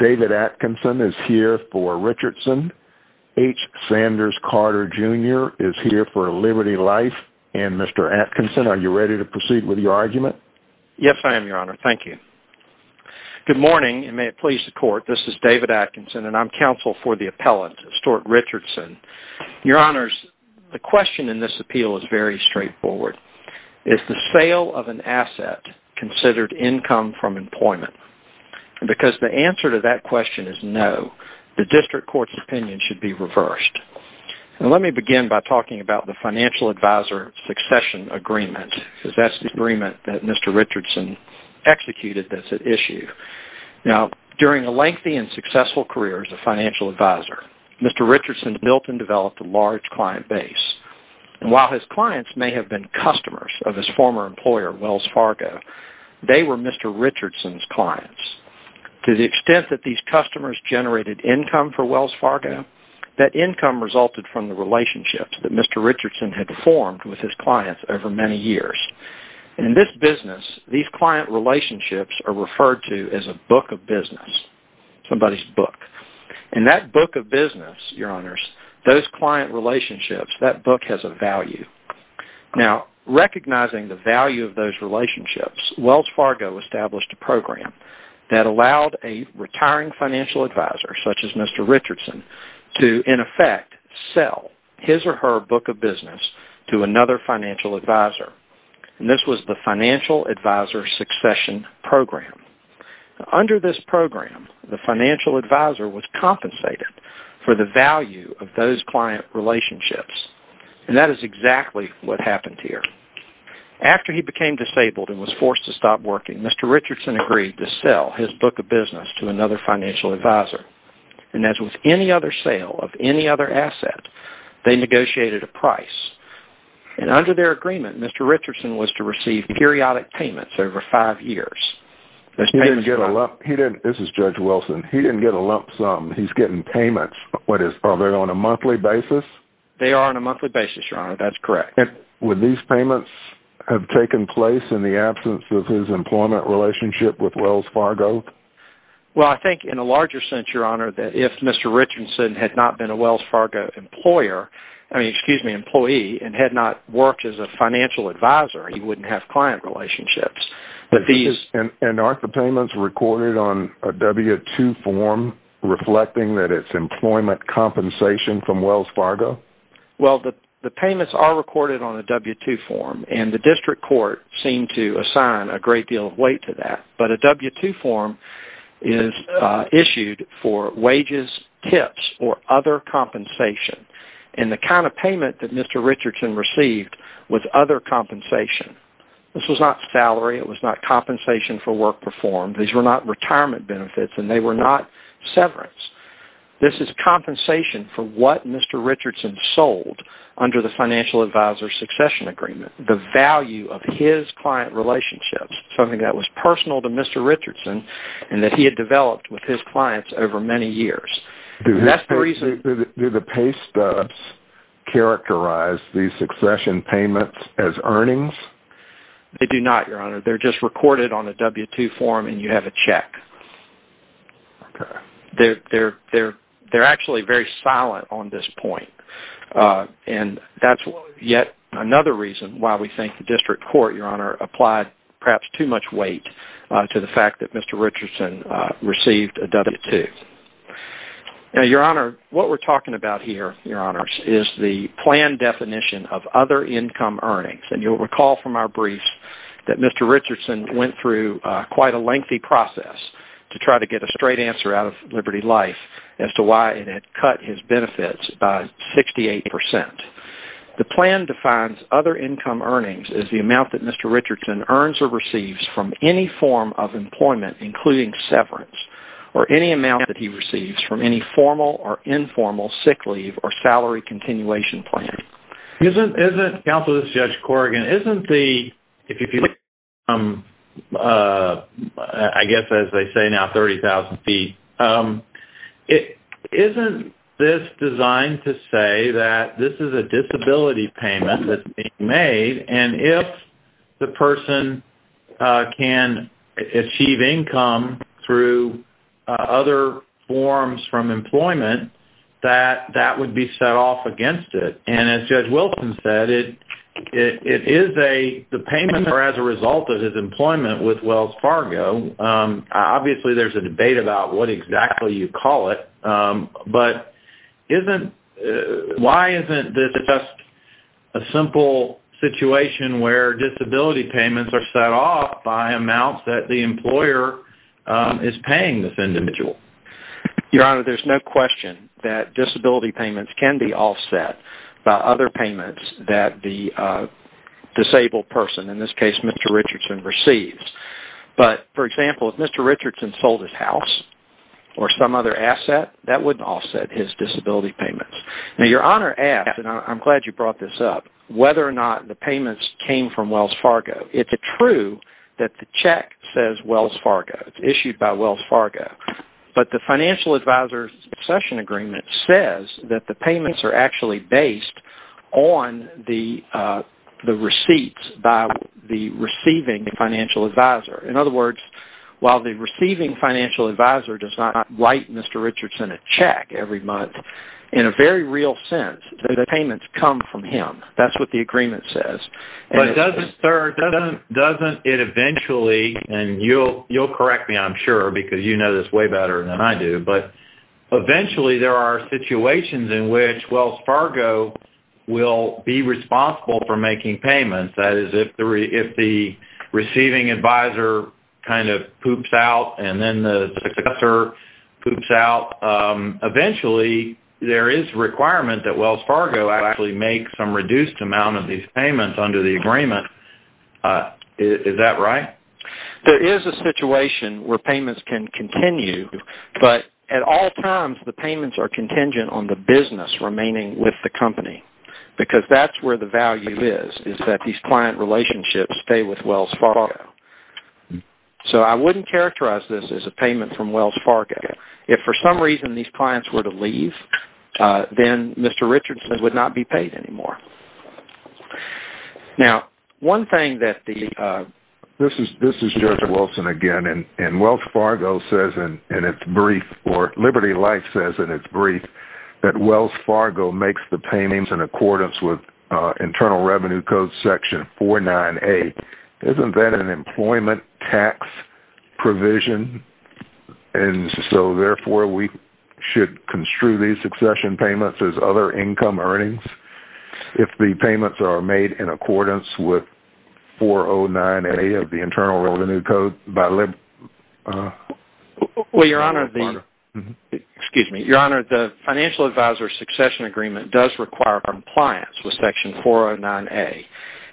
David Atkinson is here for Richardson, H. Sanders Carter, Jr. is here for Liberty Life, and Mr. Atkinson, are you ready to proceed with your argument? Yes, I am, Your Honor. Thank you. Good morning, and may it please the Court, this is David Atkinson, and I'm counsel for the appellant, Stuart Richardson. Your Honors, the question in this appeal is very straightforward. Is the sale of an asset considered income from employment? Because the answer to that question is no. The district court's opinion should be reversed. Let me begin by talking about the Financial Advisor Succession Agreement, because that's the agreement that Mr. Richardson executed that's at issue. During a lengthy and successful career as a financial advisor, Mr. Richardson built and developed a large client base. While his clients may have been customers of his former employer, Wells Fargo, they were Mr. Richardson's clients. To the extent that these customers generated income for Wells Fargo, that income resulted from the relationships that Mr. Richardson had formed with his clients over many years. In this business, these client relationships are referred to as a book of business, somebody's book. In that book of business, Your Honors, those client relationships, that book has a value. Recognizing the value of those relationships, Wells Fargo established a program that allowed a retiring financial advisor, such as Mr. Richardson, to, in effect, sell his or her book of business to another financial advisor. This was the Financial Advisor Succession Program. Under this program, the financial advisor was compensated for the value of those client relationships. That is exactly what happened here. After he became disabled and was forced to stop working, Mr. Richardson agreed to sell his book of business to another financial advisor. As with any other sale of any other asset, they negotiated a price. Under their agreement, Mr. Richardson was to receive periodic payments over five years. This is Judge Wilson. He didn't get a lump sum. He's getting payments. Are they on a monthly basis? They are on a monthly basis, Your Honor. That's correct. Would these payments have taken place in the absence of his employment relationship with Wells Fargo? Well, I think in a larger sense, Your Honor, that if Mr. Richardson had not been a Wells Fargo employee and had not worked as a financial advisor, he wouldn't have client relationships. Aren't the payments recorded on a W-2 form reflecting that it's employment compensation from Wells Fargo? The payments are recorded on a W-2 form, and the district court seemed to assign a great deal of weight to that. But a W-2 form is issued for wages, tips, or other compensation. The kind of payment that Mr. Richardson received was other compensation. This was not salary. It was not compensation for work performed. These were not retirement benefits, and they were not severance. This is compensation for what Mr. Richardson sold under the financial advisor succession agreement, the value of his client relationships, something that was personal to Mr. Richardson and that he had developed with his clients over many years. Do the pay stubs characterize these succession payments as earnings? They do not, Your Honor. They're just recorded on a W-2 form, and you have a check. Okay. They're actually very silent on this point, and that's yet another reason why we think the district court, Your Honor, applied perhaps too much weight to the fact that Mr. Richardson received a W-2. Now, Your Honor, what we're talking about here, Your Honors, is the plan definition of other income earnings, and you'll recall from our briefs that Mr. Richardson went through quite a lengthy process to try to get a straight answer out of Liberty Life as to why it had cut his benefits by 68%. The plan defines other income earnings as the amount that Mr. Richardson earns or receives from any form of employment, including severance, or any amount that he receives from any formal or informal sick leave or salary continuation plan. Counsel, this is Judge Corrigan. If you look at the income, I guess as they say now, 30,000 feet, isn't this designed to say that this is a disability payment that's being made, and if the person can achieve income through other forms from employment, that that would be set off against it? And as Judge Wilson said, the payments are as a result of his employment with Wells Fargo. Obviously, there's a debate about what exactly you call it, but why isn't this just a simple situation where disability payments are set off by amounts that the employer is paying this individual? Your Honor, there's no question that disability payments can be offset by other payments that the disabled person, in this case Mr. Richardson, receives. But, for example, if Mr. Richardson sold his house or some other asset, that wouldn't offset his disability payments. Now, Your Honor asked, and I'm glad you brought this up, whether or not the payments came from Wells Fargo. It's true that the check says Wells Fargo. It's issued by Wells Fargo. But the financial advisor's succession agreement says that the payments are actually based on the receipts by the receiving financial advisor. In other words, while the receiving financial advisor does not write Mr. Richardson a check every month, in a very real sense, the payments come from him. That's what the agreement says. But doesn't it eventually, and you'll correct me, I'm sure, because you know this way better than I do, but eventually there are situations in which Wells Fargo will be responsible for making payments. That is, if the receiving advisor kind of poops out and then the successor poops out, eventually there is a requirement that Wells Fargo actually make some reduced amount of these payments under the agreement. Is that right? There is a situation where payments can continue, but at all times the payments are contingent on the business remaining with the company. Because that's where the value is, is that these client relationships stay with Wells Fargo. So I wouldn't characterize this as a payment from Wells Fargo. If for some reason these clients were to leave, then Mr. Richardson would not be paid anymore. Now, one thing that the... This is Judge Wilson again, and Wells Fargo says in its brief, or Liberty Life says in its brief, that Wells Fargo makes the payments in accordance with Internal Revenue Code section 49A. Isn't that an employment tax provision? And so therefore we should construe these succession payments as other income earnings if the payments are made in accordance with 409A of the Internal Revenue Code by... Well, Your Honor, the financial advisor succession agreement does require compliance with section 409A,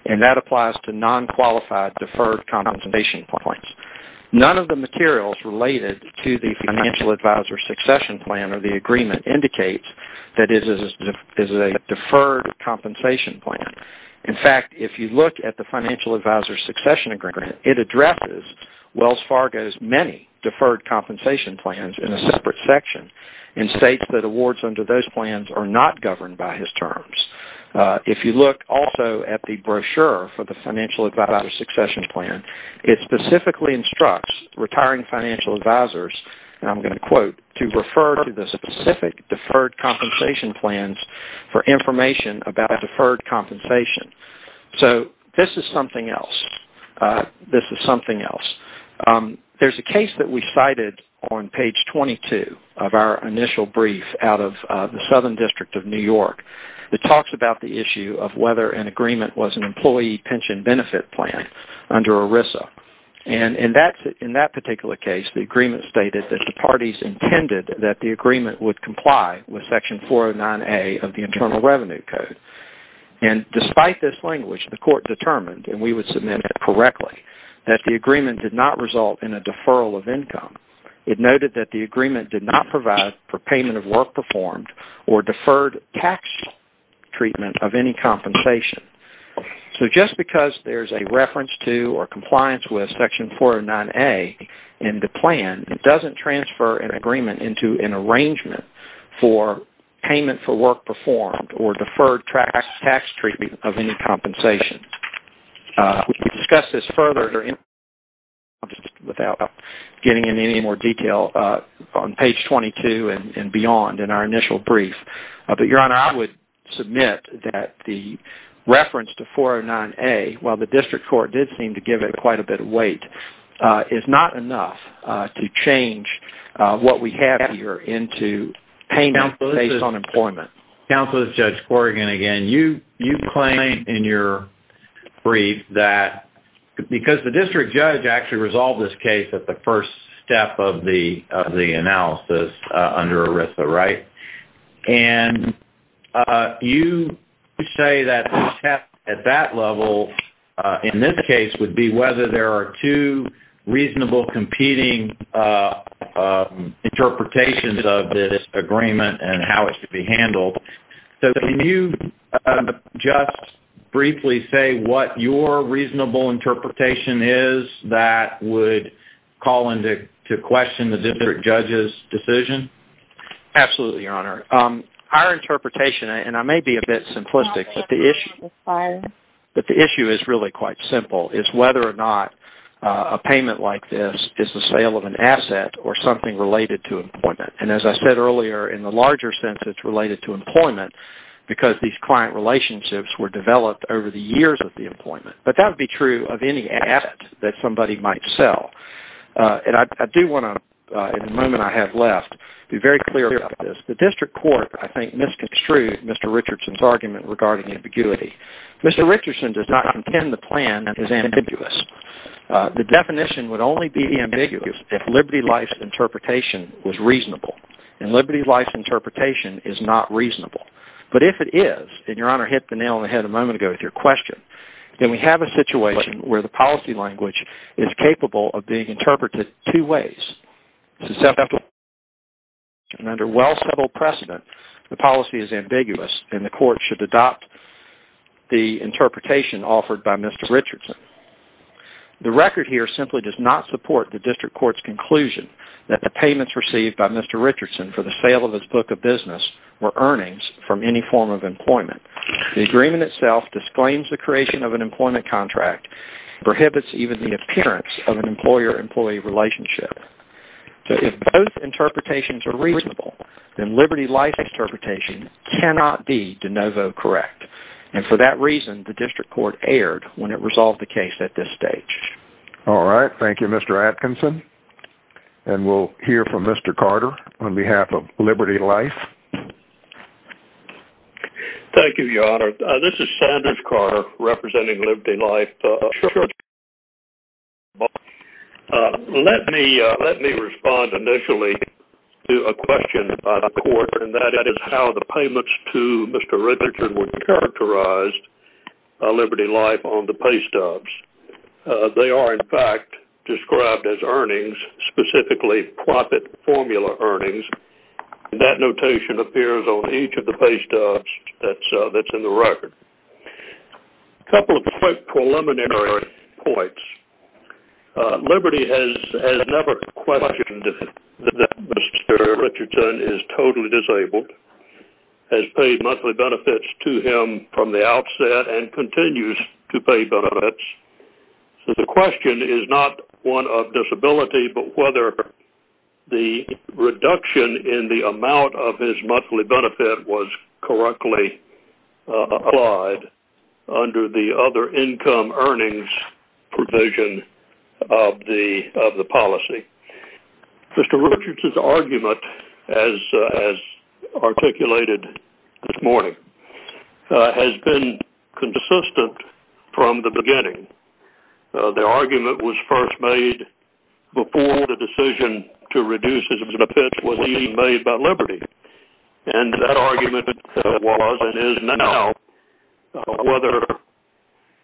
and that applies to non-qualified deferred compensation points. None of the materials related to the financial advisor succession plan or the agreement indicates that it is a deferred compensation plan. In fact, if you look at the financial advisor succession agreement, it addresses Wells Fargo's many deferred compensation plans in a separate section and states that awards under those plans are not governed by his terms. If you look also at the brochure for the financial advisor succession plan, it specifically instructs retiring financial advisors, and I'm going to quote, to refer to the specific deferred compensation plans for information about deferred compensation. So this is something else. This is something else. There's a case that we cited on page 22 of our initial brief out of the Southern District of New York. It talks about the issue of whether an agreement was an employee pension benefit plan under ERISA, and in that particular case, the agreement stated that the parties intended that the agreement would comply with section 409A of the Internal Revenue Code, and despite this language, the court determined, and we would submit it correctly, that the agreement did not result in a deferral of income. It noted that the agreement did not provide for payment of work performed or deferred tax treatment of any compensation. So just because there's a reference to or compliance with section 409A in the plan, it doesn't transfer an agreement into an arrangement for payment for work performed or deferred tax treatment of any compensation. We can discuss this further without getting into any more detail on page 22 and beyond in our initial brief, but, Your Honor, I would submit that the reference to 409A, while the district court did seem to give it quite a bit of weight, is not enough to change what we have here into payment based on employment. Counsel, this is Judge Corrigan again. You claim in your brief that, because the district judge actually resolved this case at the first step of the analysis under ERISA, right? And you say that the test at that level, in this case, would be whether there are two reasonable competing interpretations of this agreement and how it should be handled. So can you just briefly say what your reasonable interpretation is that would call into question the district judge's decision? Absolutely, Your Honor. Our interpretation, and I may be a bit simplistic, but the issue is really quite simple. It's whether or not a payment like this is the sale of an asset or something related to employment. And as I said earlier, in the larger sense, it's related to employment because these client relationships were developed over the years of the employment. But that would be true of any asset that somebody might sell. And I do want to, in the moment I have left, be very clear about this. The district court, I think, misconstrued Mr. Richardson's argument regarding ambiguity. Mr. Richardson does not contend the plan is ambiguous. The definition would only be ambiguous if Liberty Life's interpretation was reasonable. And Liberty Life's interpretation is not reasonable. But if it is, and Your Honor hit the nail on the head a moment ago with your question, then we have a situation where the policy language is capable of being interpreted two ways. And under well-subtle precedent, the policy is ambiguous and the court should adopt the interpretation offered by Mr. Richardson. The record here simply does not support the district court's conclusion that the payments received by Mr. Richardson for the sale of his book of business were earnings from any form of employment. The agreement itself disclaims the creation of an employment contract, prohibits even the appearance of an employer-employee relationship. So if both interpretations are reasonable, then Liberty Life's interpretation cannot be de novo correct. And for that reason, the district court erred when it resolved the case at this stage. All right. Thank you, Mr. Atkinson. And we'll hear from Mr. Carter on behalf of Liberty Life. Thank you, Your Honor. This is Sanders Carter representing Liberty Life. Let me respond initially to a question by the court, and that is how the payments to Mr. Richardson were characterized by Liberty Life on the pay stubs. They are, in fact, described as earnings, specifically profit formula earnings. That notation appears on each of the pay stubs that's in the record. A couple of preliminary points. Liberty has never questioned that Mr. Richardson is totally disabled, has paid monthly benefits to him from the outset, and continues to pay benefits. So the question is not one of disability, but whether the reduction in the amount of his monthly benefit was correctly applied under the other income earnings provision of the policy. Mr. Richardson's argument, as articulated this morning, has been consistent from the beginning. The argument was first made before the decision to reduce his benefits was even made by Liberty. And that argument was and is now whether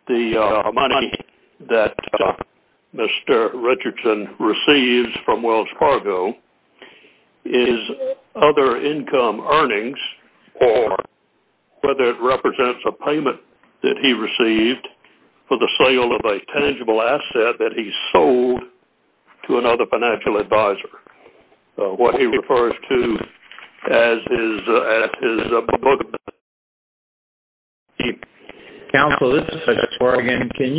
the money that Mr. Richardson receives from Wells Fargo is other income earnings or whether it represents a payment that he received for the sale of a tangible asset that he sold to another financial advisor, what he refers to as his book of benefits. Counsel, this is such a bargain. There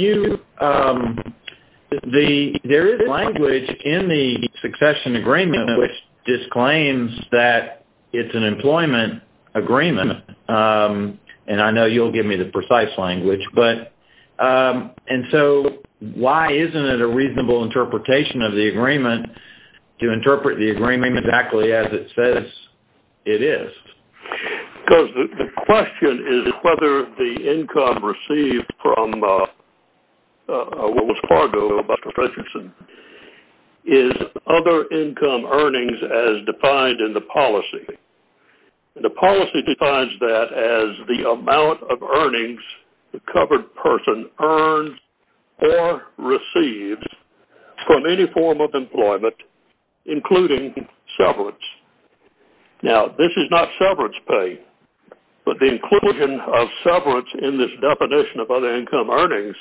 is language in the succession agreement which disclaims that it's an employment agreement. And I know you'll give me the precise language. And so why isn't it a reasonable interpretation of the agreement to interpret the agreement exactly as it says it is? Because the question is whether the income received from Wells Fargo, Mr. Richardson, is other income earnings as defined in the policy. The policy defines that as the amount of earnings the covered person earns or receives from any form of employment, including severance. Now, this is not severance pay, but the inclusion of severance in this definition of other income earnings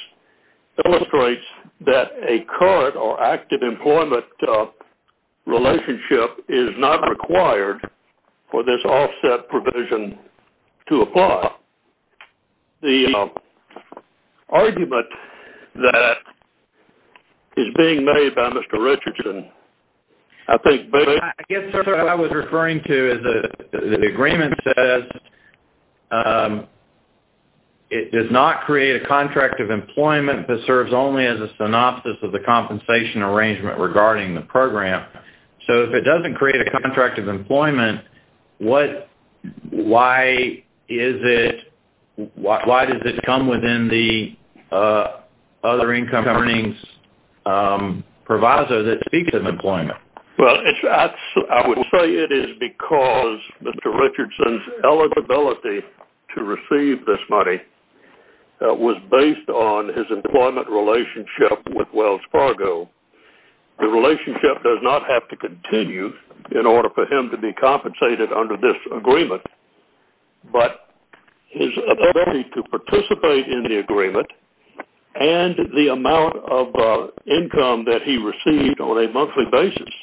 illustrates that a current or active employment relationship is not required for this offset provision to apply. Now, the argument that is being made by Mr. Richardson, I think... I guess, sir, what I was referring to is the agreement says it does not create a contract of employment but serves only as a synopsis of the compensation arrangement regarding the program. So if it doesn't create a contract of employment, why is it... why does it come within the other income earnings proviso that speaks of employment? Well, I would say it is because Mr. Richardson's eligibility to receive this money was based on his employment relationship with Wells Fargo. The relationship does not have to continue in order for him to be compensated under this agreement, but his ability to participate in the agreement and the amount of income that he received on a monthly basis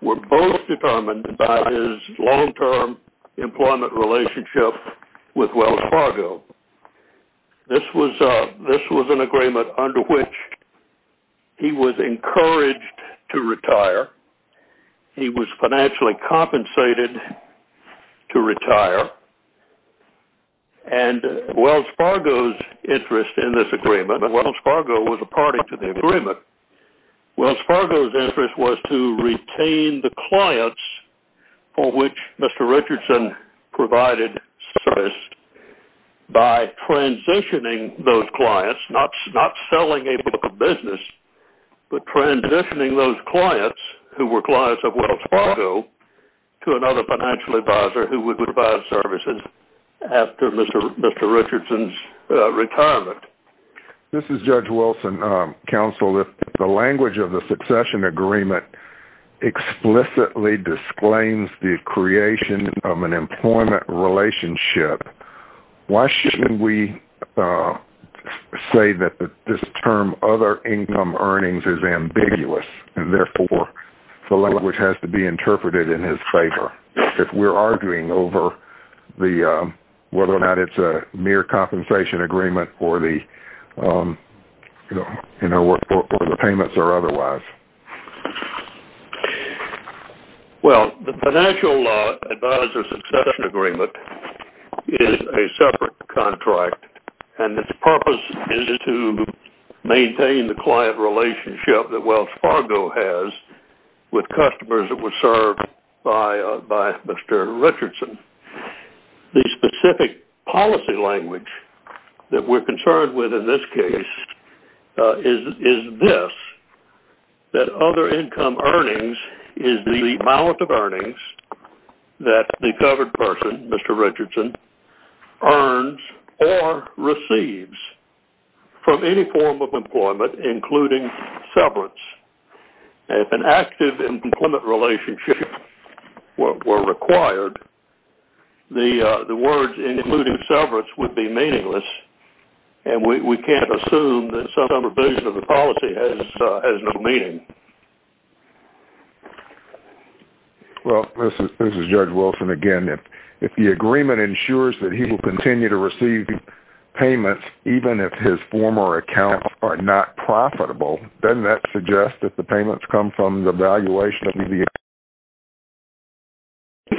were both determined by his long-term employment relationship with Wells Fargo. This was an agreement under which he was encouraged to retire. He was financially compensated to retire, and Wells Fargo's interest in this agreement... Wells Fargo was a party to the agreement. Wells Fargo's interest was to retain the clients for which Mr. Richardson provided service by transitioning those clients, not selling a business, but transitioning those clients who were clients of Wells Fargo to another financial advisor who would provide services after Mr. Richardson's retirement. This is Judge Wilson. Counsel, if the language of the succession agreement explicitly disclaims the creation of an employment relationship, why shouldn't we say that this term, other income earnings, is ambiguous, and therefore the language has to be interpreted in his favor? If we're arguing over whether or not it's a mere compensation agreement or the payments are otherwise. Well, the financial advisor succession agreement is a separate contract, and its purpose is to maintain the client relationship that Wells Fargo has with customers that were served by Mr. Richardson. The specific policy language that we're concerned with in this case is this, that other income earnings is the amount of earnings that the covered person, Mr. Richardson, earns or receives from any form of employment, including severance. If an active employment relationship were required, the words including severance would be meaningless, and we can't assume that some revision of the policy has no meaning. Well, this is Judge Wilson again. If the agreement ensures that he will continue to receive payments even if his former accounts are not profitable, doesn't that suggest that the payments come from the evaluation of the account?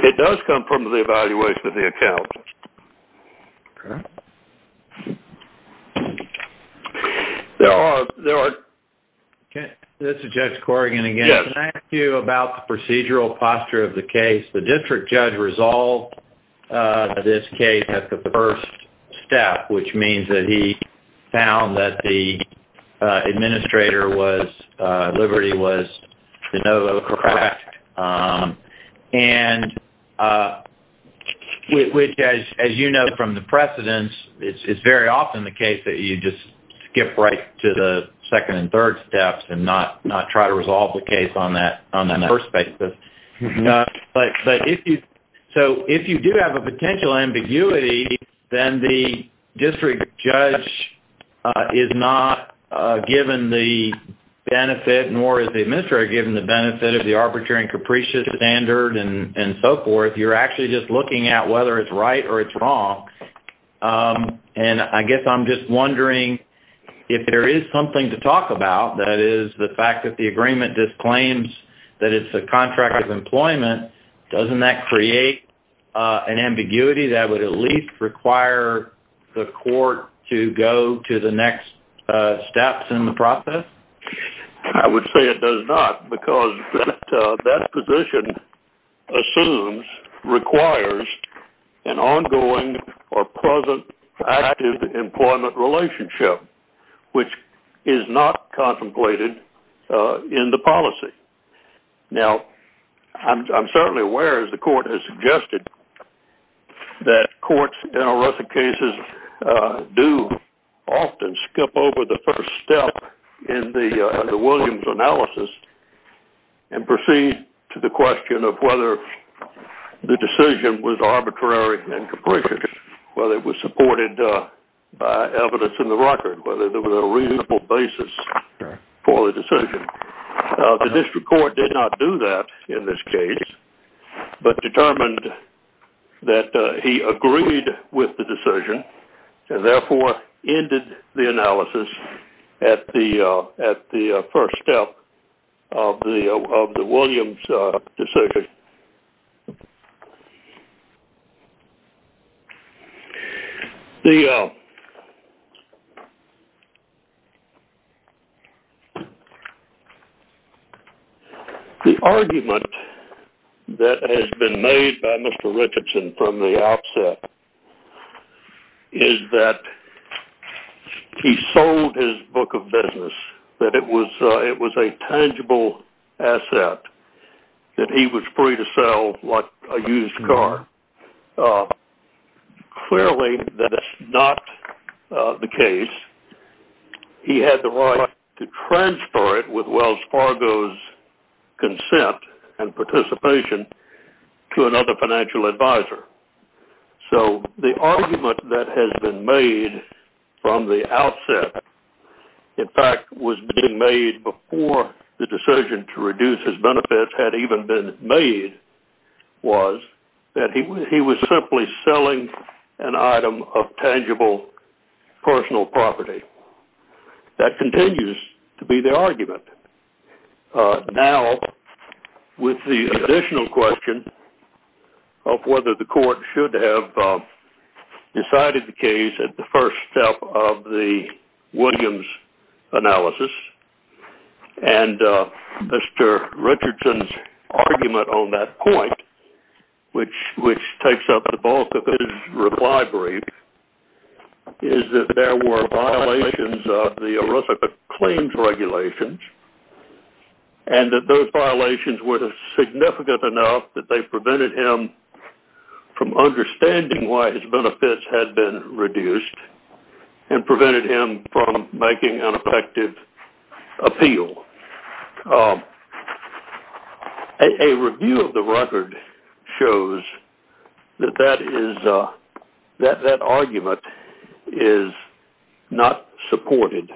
It does come from the evaluation of the account. This is Judge Corrigan again. Can I ask you about the procedural posture of the case? The district judge resolved this case at the first step, which means that he found that the administrator, Liberty, was de novo correct. As you know from the precedents, it's very often the case that you just skip right to the second and third steps and not try to resolve the case on that first basis. But if you do have a potential ambiguity, then the district judge is not given the benefit, nor is the administrator given the benefit of the arbitrary and capricious standard and so forth. You're actually just looking at whether it's right or it's wrong. And I guess I'm just wondering if there is something to talk about, that is the fact that the agreement disclaims that it's a contract of employment, doesn't that create an ambiguity that would at least require the court to go to the next steps in the process? I would say it does not because that position assumes, requires an ongoing or present active employment relationship, which is not contemplated in the policy. Now, I'm certainly aware, as the court has suggested, that courts in arresting cases do often skip over the first step in the Williams analysis and proceed to the question of whether the decision was arbitrary and capricious, whether it was supported by evidence in the record, whether there was a reasonable basis for the decision. The district court did not do that in this case, but determined that he agreed with the decision and therefore ended the analysis at the first step of the Williams decision. The argument that has been made by Mr. Richardson from the outset is that he sold his book of business, that it was a tangible asset that he was free to sell like a used car, but clearly that is not the case. He had the right to transfer it with Wells Fargo's consent and participation to another financial advisor. So the argument that has been made from the outset, in fact was being made before the decision to reduce his benefits had even been made, was that he was simply selling an item of tangible personal property. That continues to be the argument. Now, with the additional question of whether the court should have decided the case at the first step of the Williams analysis, and Mr. Richardson's argument on that point, which takes up the bulk of his reply brief, is that there were violations of the Arithaka Claims Regulations and that those violations were significant enough that they prevented him from understanding why his benefits had been reduced and prevented him from making an effective appeal. A review of the record shows that that argument is not supported.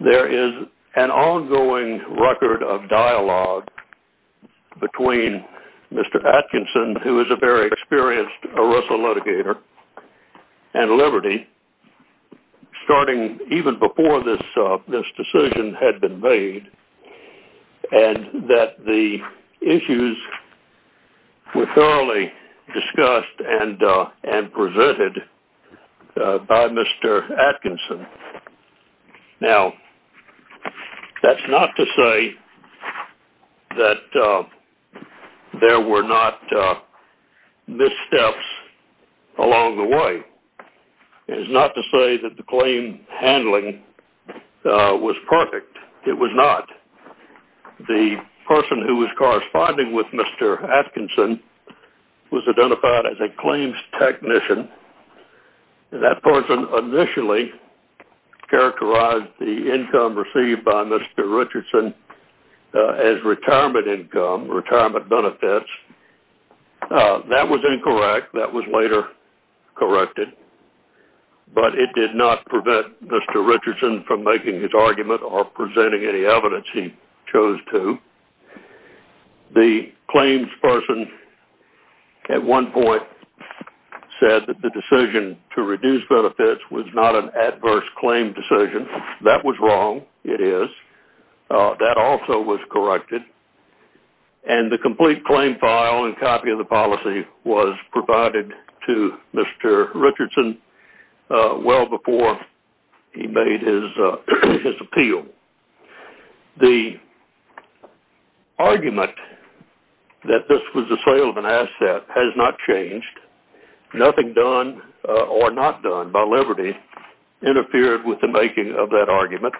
There is an ongoing record of dialogue between Mr. Atkinson, who is a very experienced Aritha litigator, and Liberty, starting even before this decision had been made, and that the issues were thoroughly discussed and presented by Mr. Atkinson. Now, that's not to say that there were not missteps along the way. It is not to say that the claim handling was perfect. It was not. The person who was corresponding with Mr. Atkinson was identified as a claims technician. That person initially characterized the income received by Mr. Richardson as retirement income, retirement benefits. That was incorrect. That was later corrected. But it did not prevent Mr. Richardson from making his argument or presenting any evidence he chose to. The claims person at one point said that the decision to reduce benefits was not an adverse claim decision. That was wrong. It is. That also was corrected. And the complete claim file and copy of the policy was provided to Mr. Richardson well before he made his appeal. The argument that this was the sale of an asset has not changed. Nothing done or not done by Liberty interfered with the making of that argument.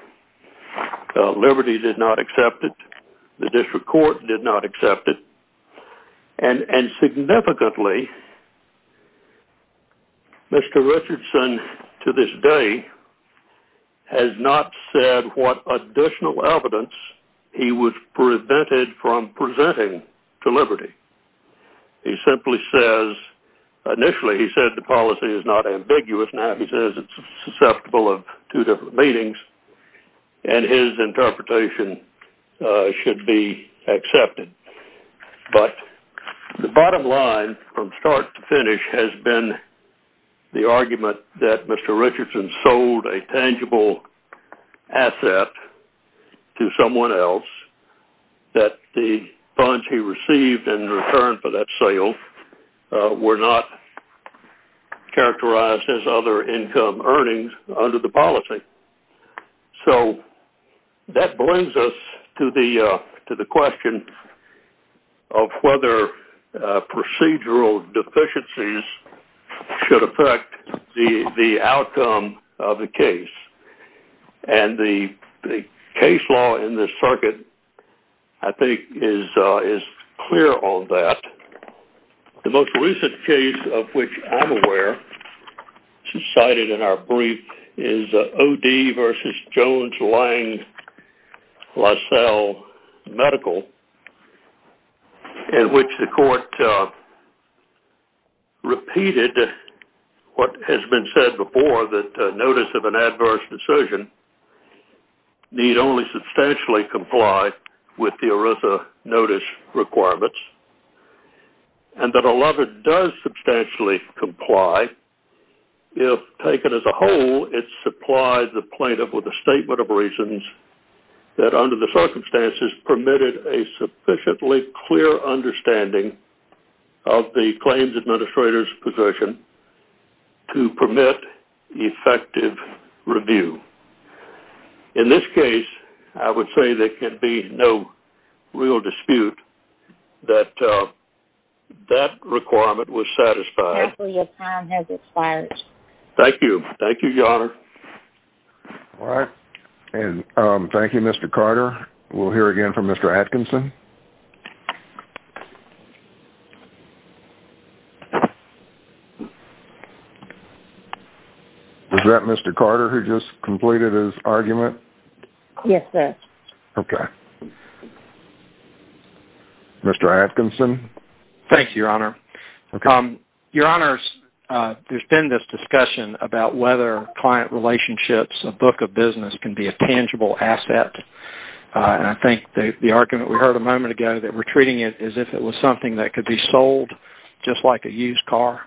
Liberty did not accept it. The district court did not accept it. And significantly, Mr. Richardson to this day has not said what additional evidence he would have prevented from presenting to Liberty. He simply says, initially he said the policy is not ambiguous. Now he says it is susceptible of two different meanings. And his interpretation should be accepted. But the bottom line from start to finish has been the argument that Mr. Richardson sold a tangible asset to someone else, that the funds he received in return for that sale were not characterized as other income earnings under the policy. So that brings us to the question of whether procedural deficiencies should affect the outcome of the case. And the case law in this circuit I think is clear on that. The most recent case of which I'm aware, cited in our brief, is O.D. v. Jones-Lange-Lassell Medical in which the court repeated what has been said before, that notice of an adverse decision need only substantially comply with the ERISA notice requirements. And that a lover does substantially comply if taken as a whole it supplies the plaintiff with a statement of reasons that under the circumstances permitted a sufficiently clear understanding of the claims administrator's position to permit effective review. In this case, I would say there can be no real dispute that that requirement was satisfied. Thank you. Thank you, Your Honor. Thank you, Mr. Carter. We'll hear again from Mr. Atkinson. Thank you. Was that Mr. Carter who just completed his argument? Yes, sir. Okay. Mr. Atkinson? Thank you, Your Honor. Okay. Your Honors, there's been this discussion about whether client relationships, a book of business, can be a tangible asset. And I think the argument we heard a moment ago that we're treating it as if it was something that could be sold just like a used car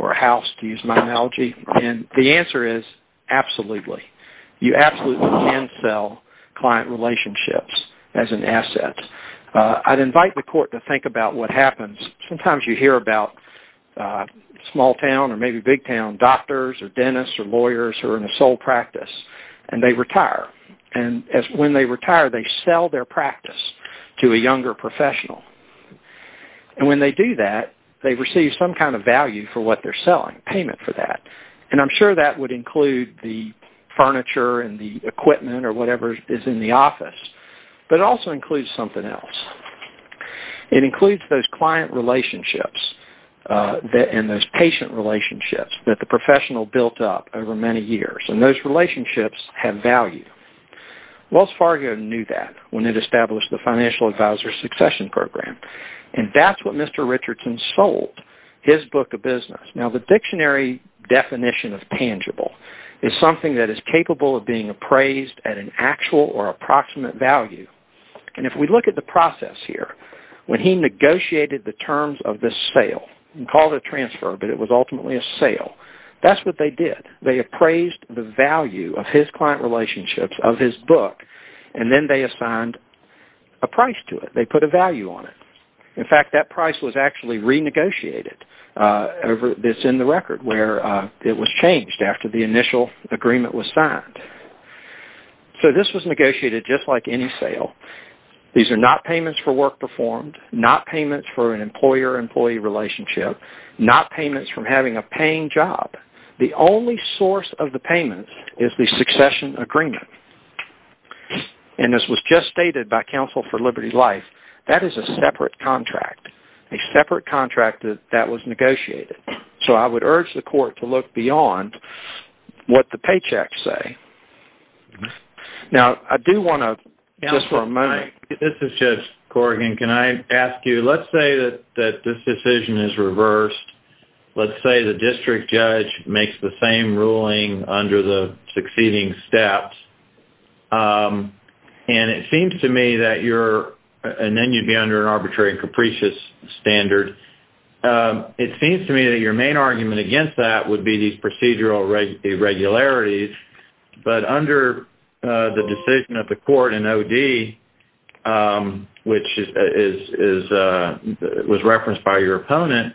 or a house, to use my analogy. And the answer is, absolutely. You absolutely can sell client relationships as an asset. I'd invite the court to think about what happens. Sometimes you hear about small-town or maybe big-town doctors or dentists or lawyers who are in a sole practice, and they retire. And when they retire, they sell their practice to a younger professional. And when they do that, they receive some kind of value for what they're selling, payment for that. And I'm sure that would include the furniture and the equipment or whatever is in the office. But it also includes something else. It includes those client relationships and those patient relationships that the professional built up over many years. And those relationships have value. Wells Fargo knew that when it established the Financial Advisor Succession Program. And that's what Mr. Richardson sold, his book of business. Now, the dictionary definition of tangible is something that is capable of being appraised at an actual or approximate value. And if we look at the process here, when he negotiated the terms of this sale and called it a transfer, but it was ultimately a sale, that's what they did. They appraised the value of his client relationships, of his book, and then they assigned a price to it. They put a value on it. In fact, that price was actually renegotiated. It's in the record where it was changed after the initial agreement was signed. So this was negotiated just like any sale. These are not payments for work performed, not payments for an employer-employee relationship, not payments from having a paying job. The only source of the payments is the succession agreement. And this was just stated by Counsel for Liberty Life. That is a separate contract, a separate contract that was negotiated. So I would urge the court to look beyond what the paychecks say. Now, I do want to just for a moment. This is Judge Corrigan. Can I ask you, let's say that this decision is reversed. Let's say the district judge makes the same ruling under the succeeding steps. And it seems to me that you're, and then you'd be under an arbitrary and capricious standard. It seems to me that your main argument against that would be these procedural irregularities. But under the decision of the court in OD, which was referenced by your opponent,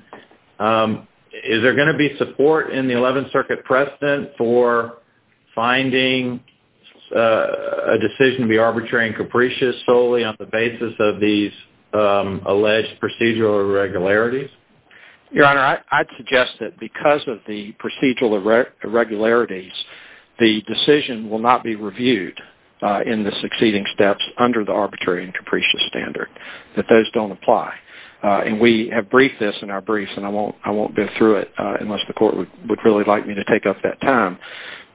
is there going to be support in the 11th Circuit precedent for finding a decision to be arbitrary and capricious solely on the basis of these alleged procedural irregularities? Your Honor, I'd suggest that because of the procedural irregularities, the decision will not be reviewed in the succeeding steps under the arbitrary and capricious standard, that those don't apply. And we have briefed this in our briefs, and I won't go through it unless the court would really like me to take up that time.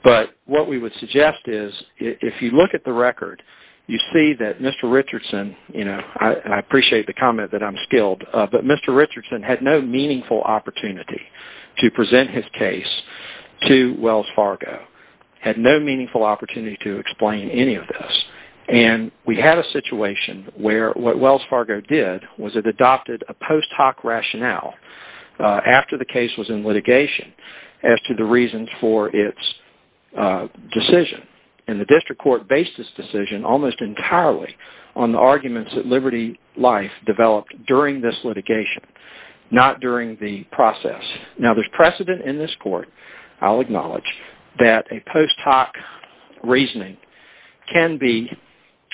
But what we would suggest is if you look at the record, you see that Mr. Richardson, you know, I appreciate the comment that I'm skilled, but Mr. Richardson had no meaningful opportunity to present his case to Wells Fargo. He had no meaningful opportunity to explain any of this. And we had a situation where what Wells Fargo did was it adopted a post hoc rationale after the case was in litigation as to the reasons for its decision. And the district court based this decision almost entirely on the arguments that Liberty Life developed during this litigation, not during the process. Now, there's precedent in this court, I'll acknowledge, that a post hoc reasoning can be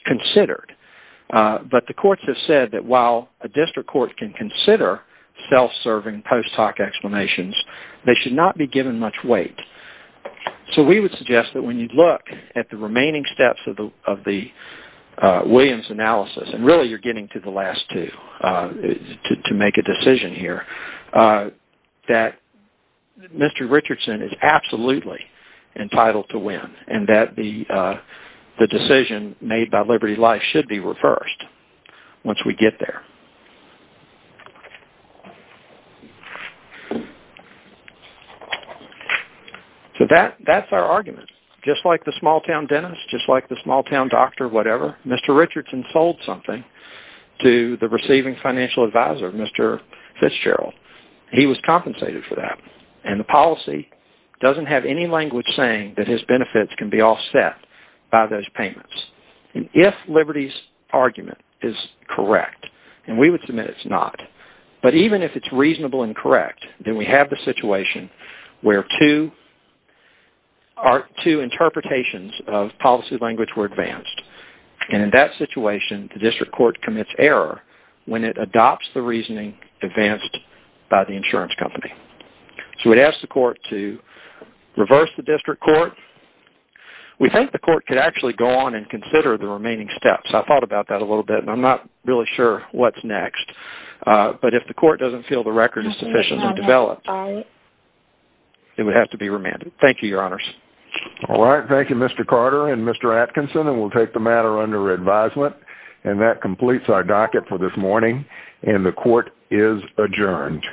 considered. But the courts have said that while a district court can consider self-serving post hoc explanations, they should not be given much weight. So we would suggest that when you look at the remaining steps of the Williams analysis, and really you're getting to the last two to make a decision here, that Mr. Richardson is absolutely entitled to win, and that the decision made by Liberty Life should be reversed once we get there. So that's our argument. Just like the small town dentist, just like the small town doctor, whatever, Mr. Richardson sold something to the receiving financial advisor, Mr. Fitzgerald. He was compensated for that. And the policy doesn't have any language saying that his benefits can be offset by those payments. If Liberty's argument is correct, and we would submit it's not, but even if it's reasonable and correct, then we have the situation where two interpretations of policy language were advanced. And in that situation, the district court commits error when it adopts the reasoning advanced by the insurance company. So we'd ask the court to reverse the district court. We think the court could actually go on and consider the remaining steps. I thought about that a little bit, and I'm not really sure what's next. But if the court doesn't feel the record is sufficiently developed, it would have to be remanded. Thank you, your honors. All right, thank you, Mr. Carter and Mr. Atkinson, and we'll take the matter under advisement. And that completes our docket for this morning, and the court is adjourned.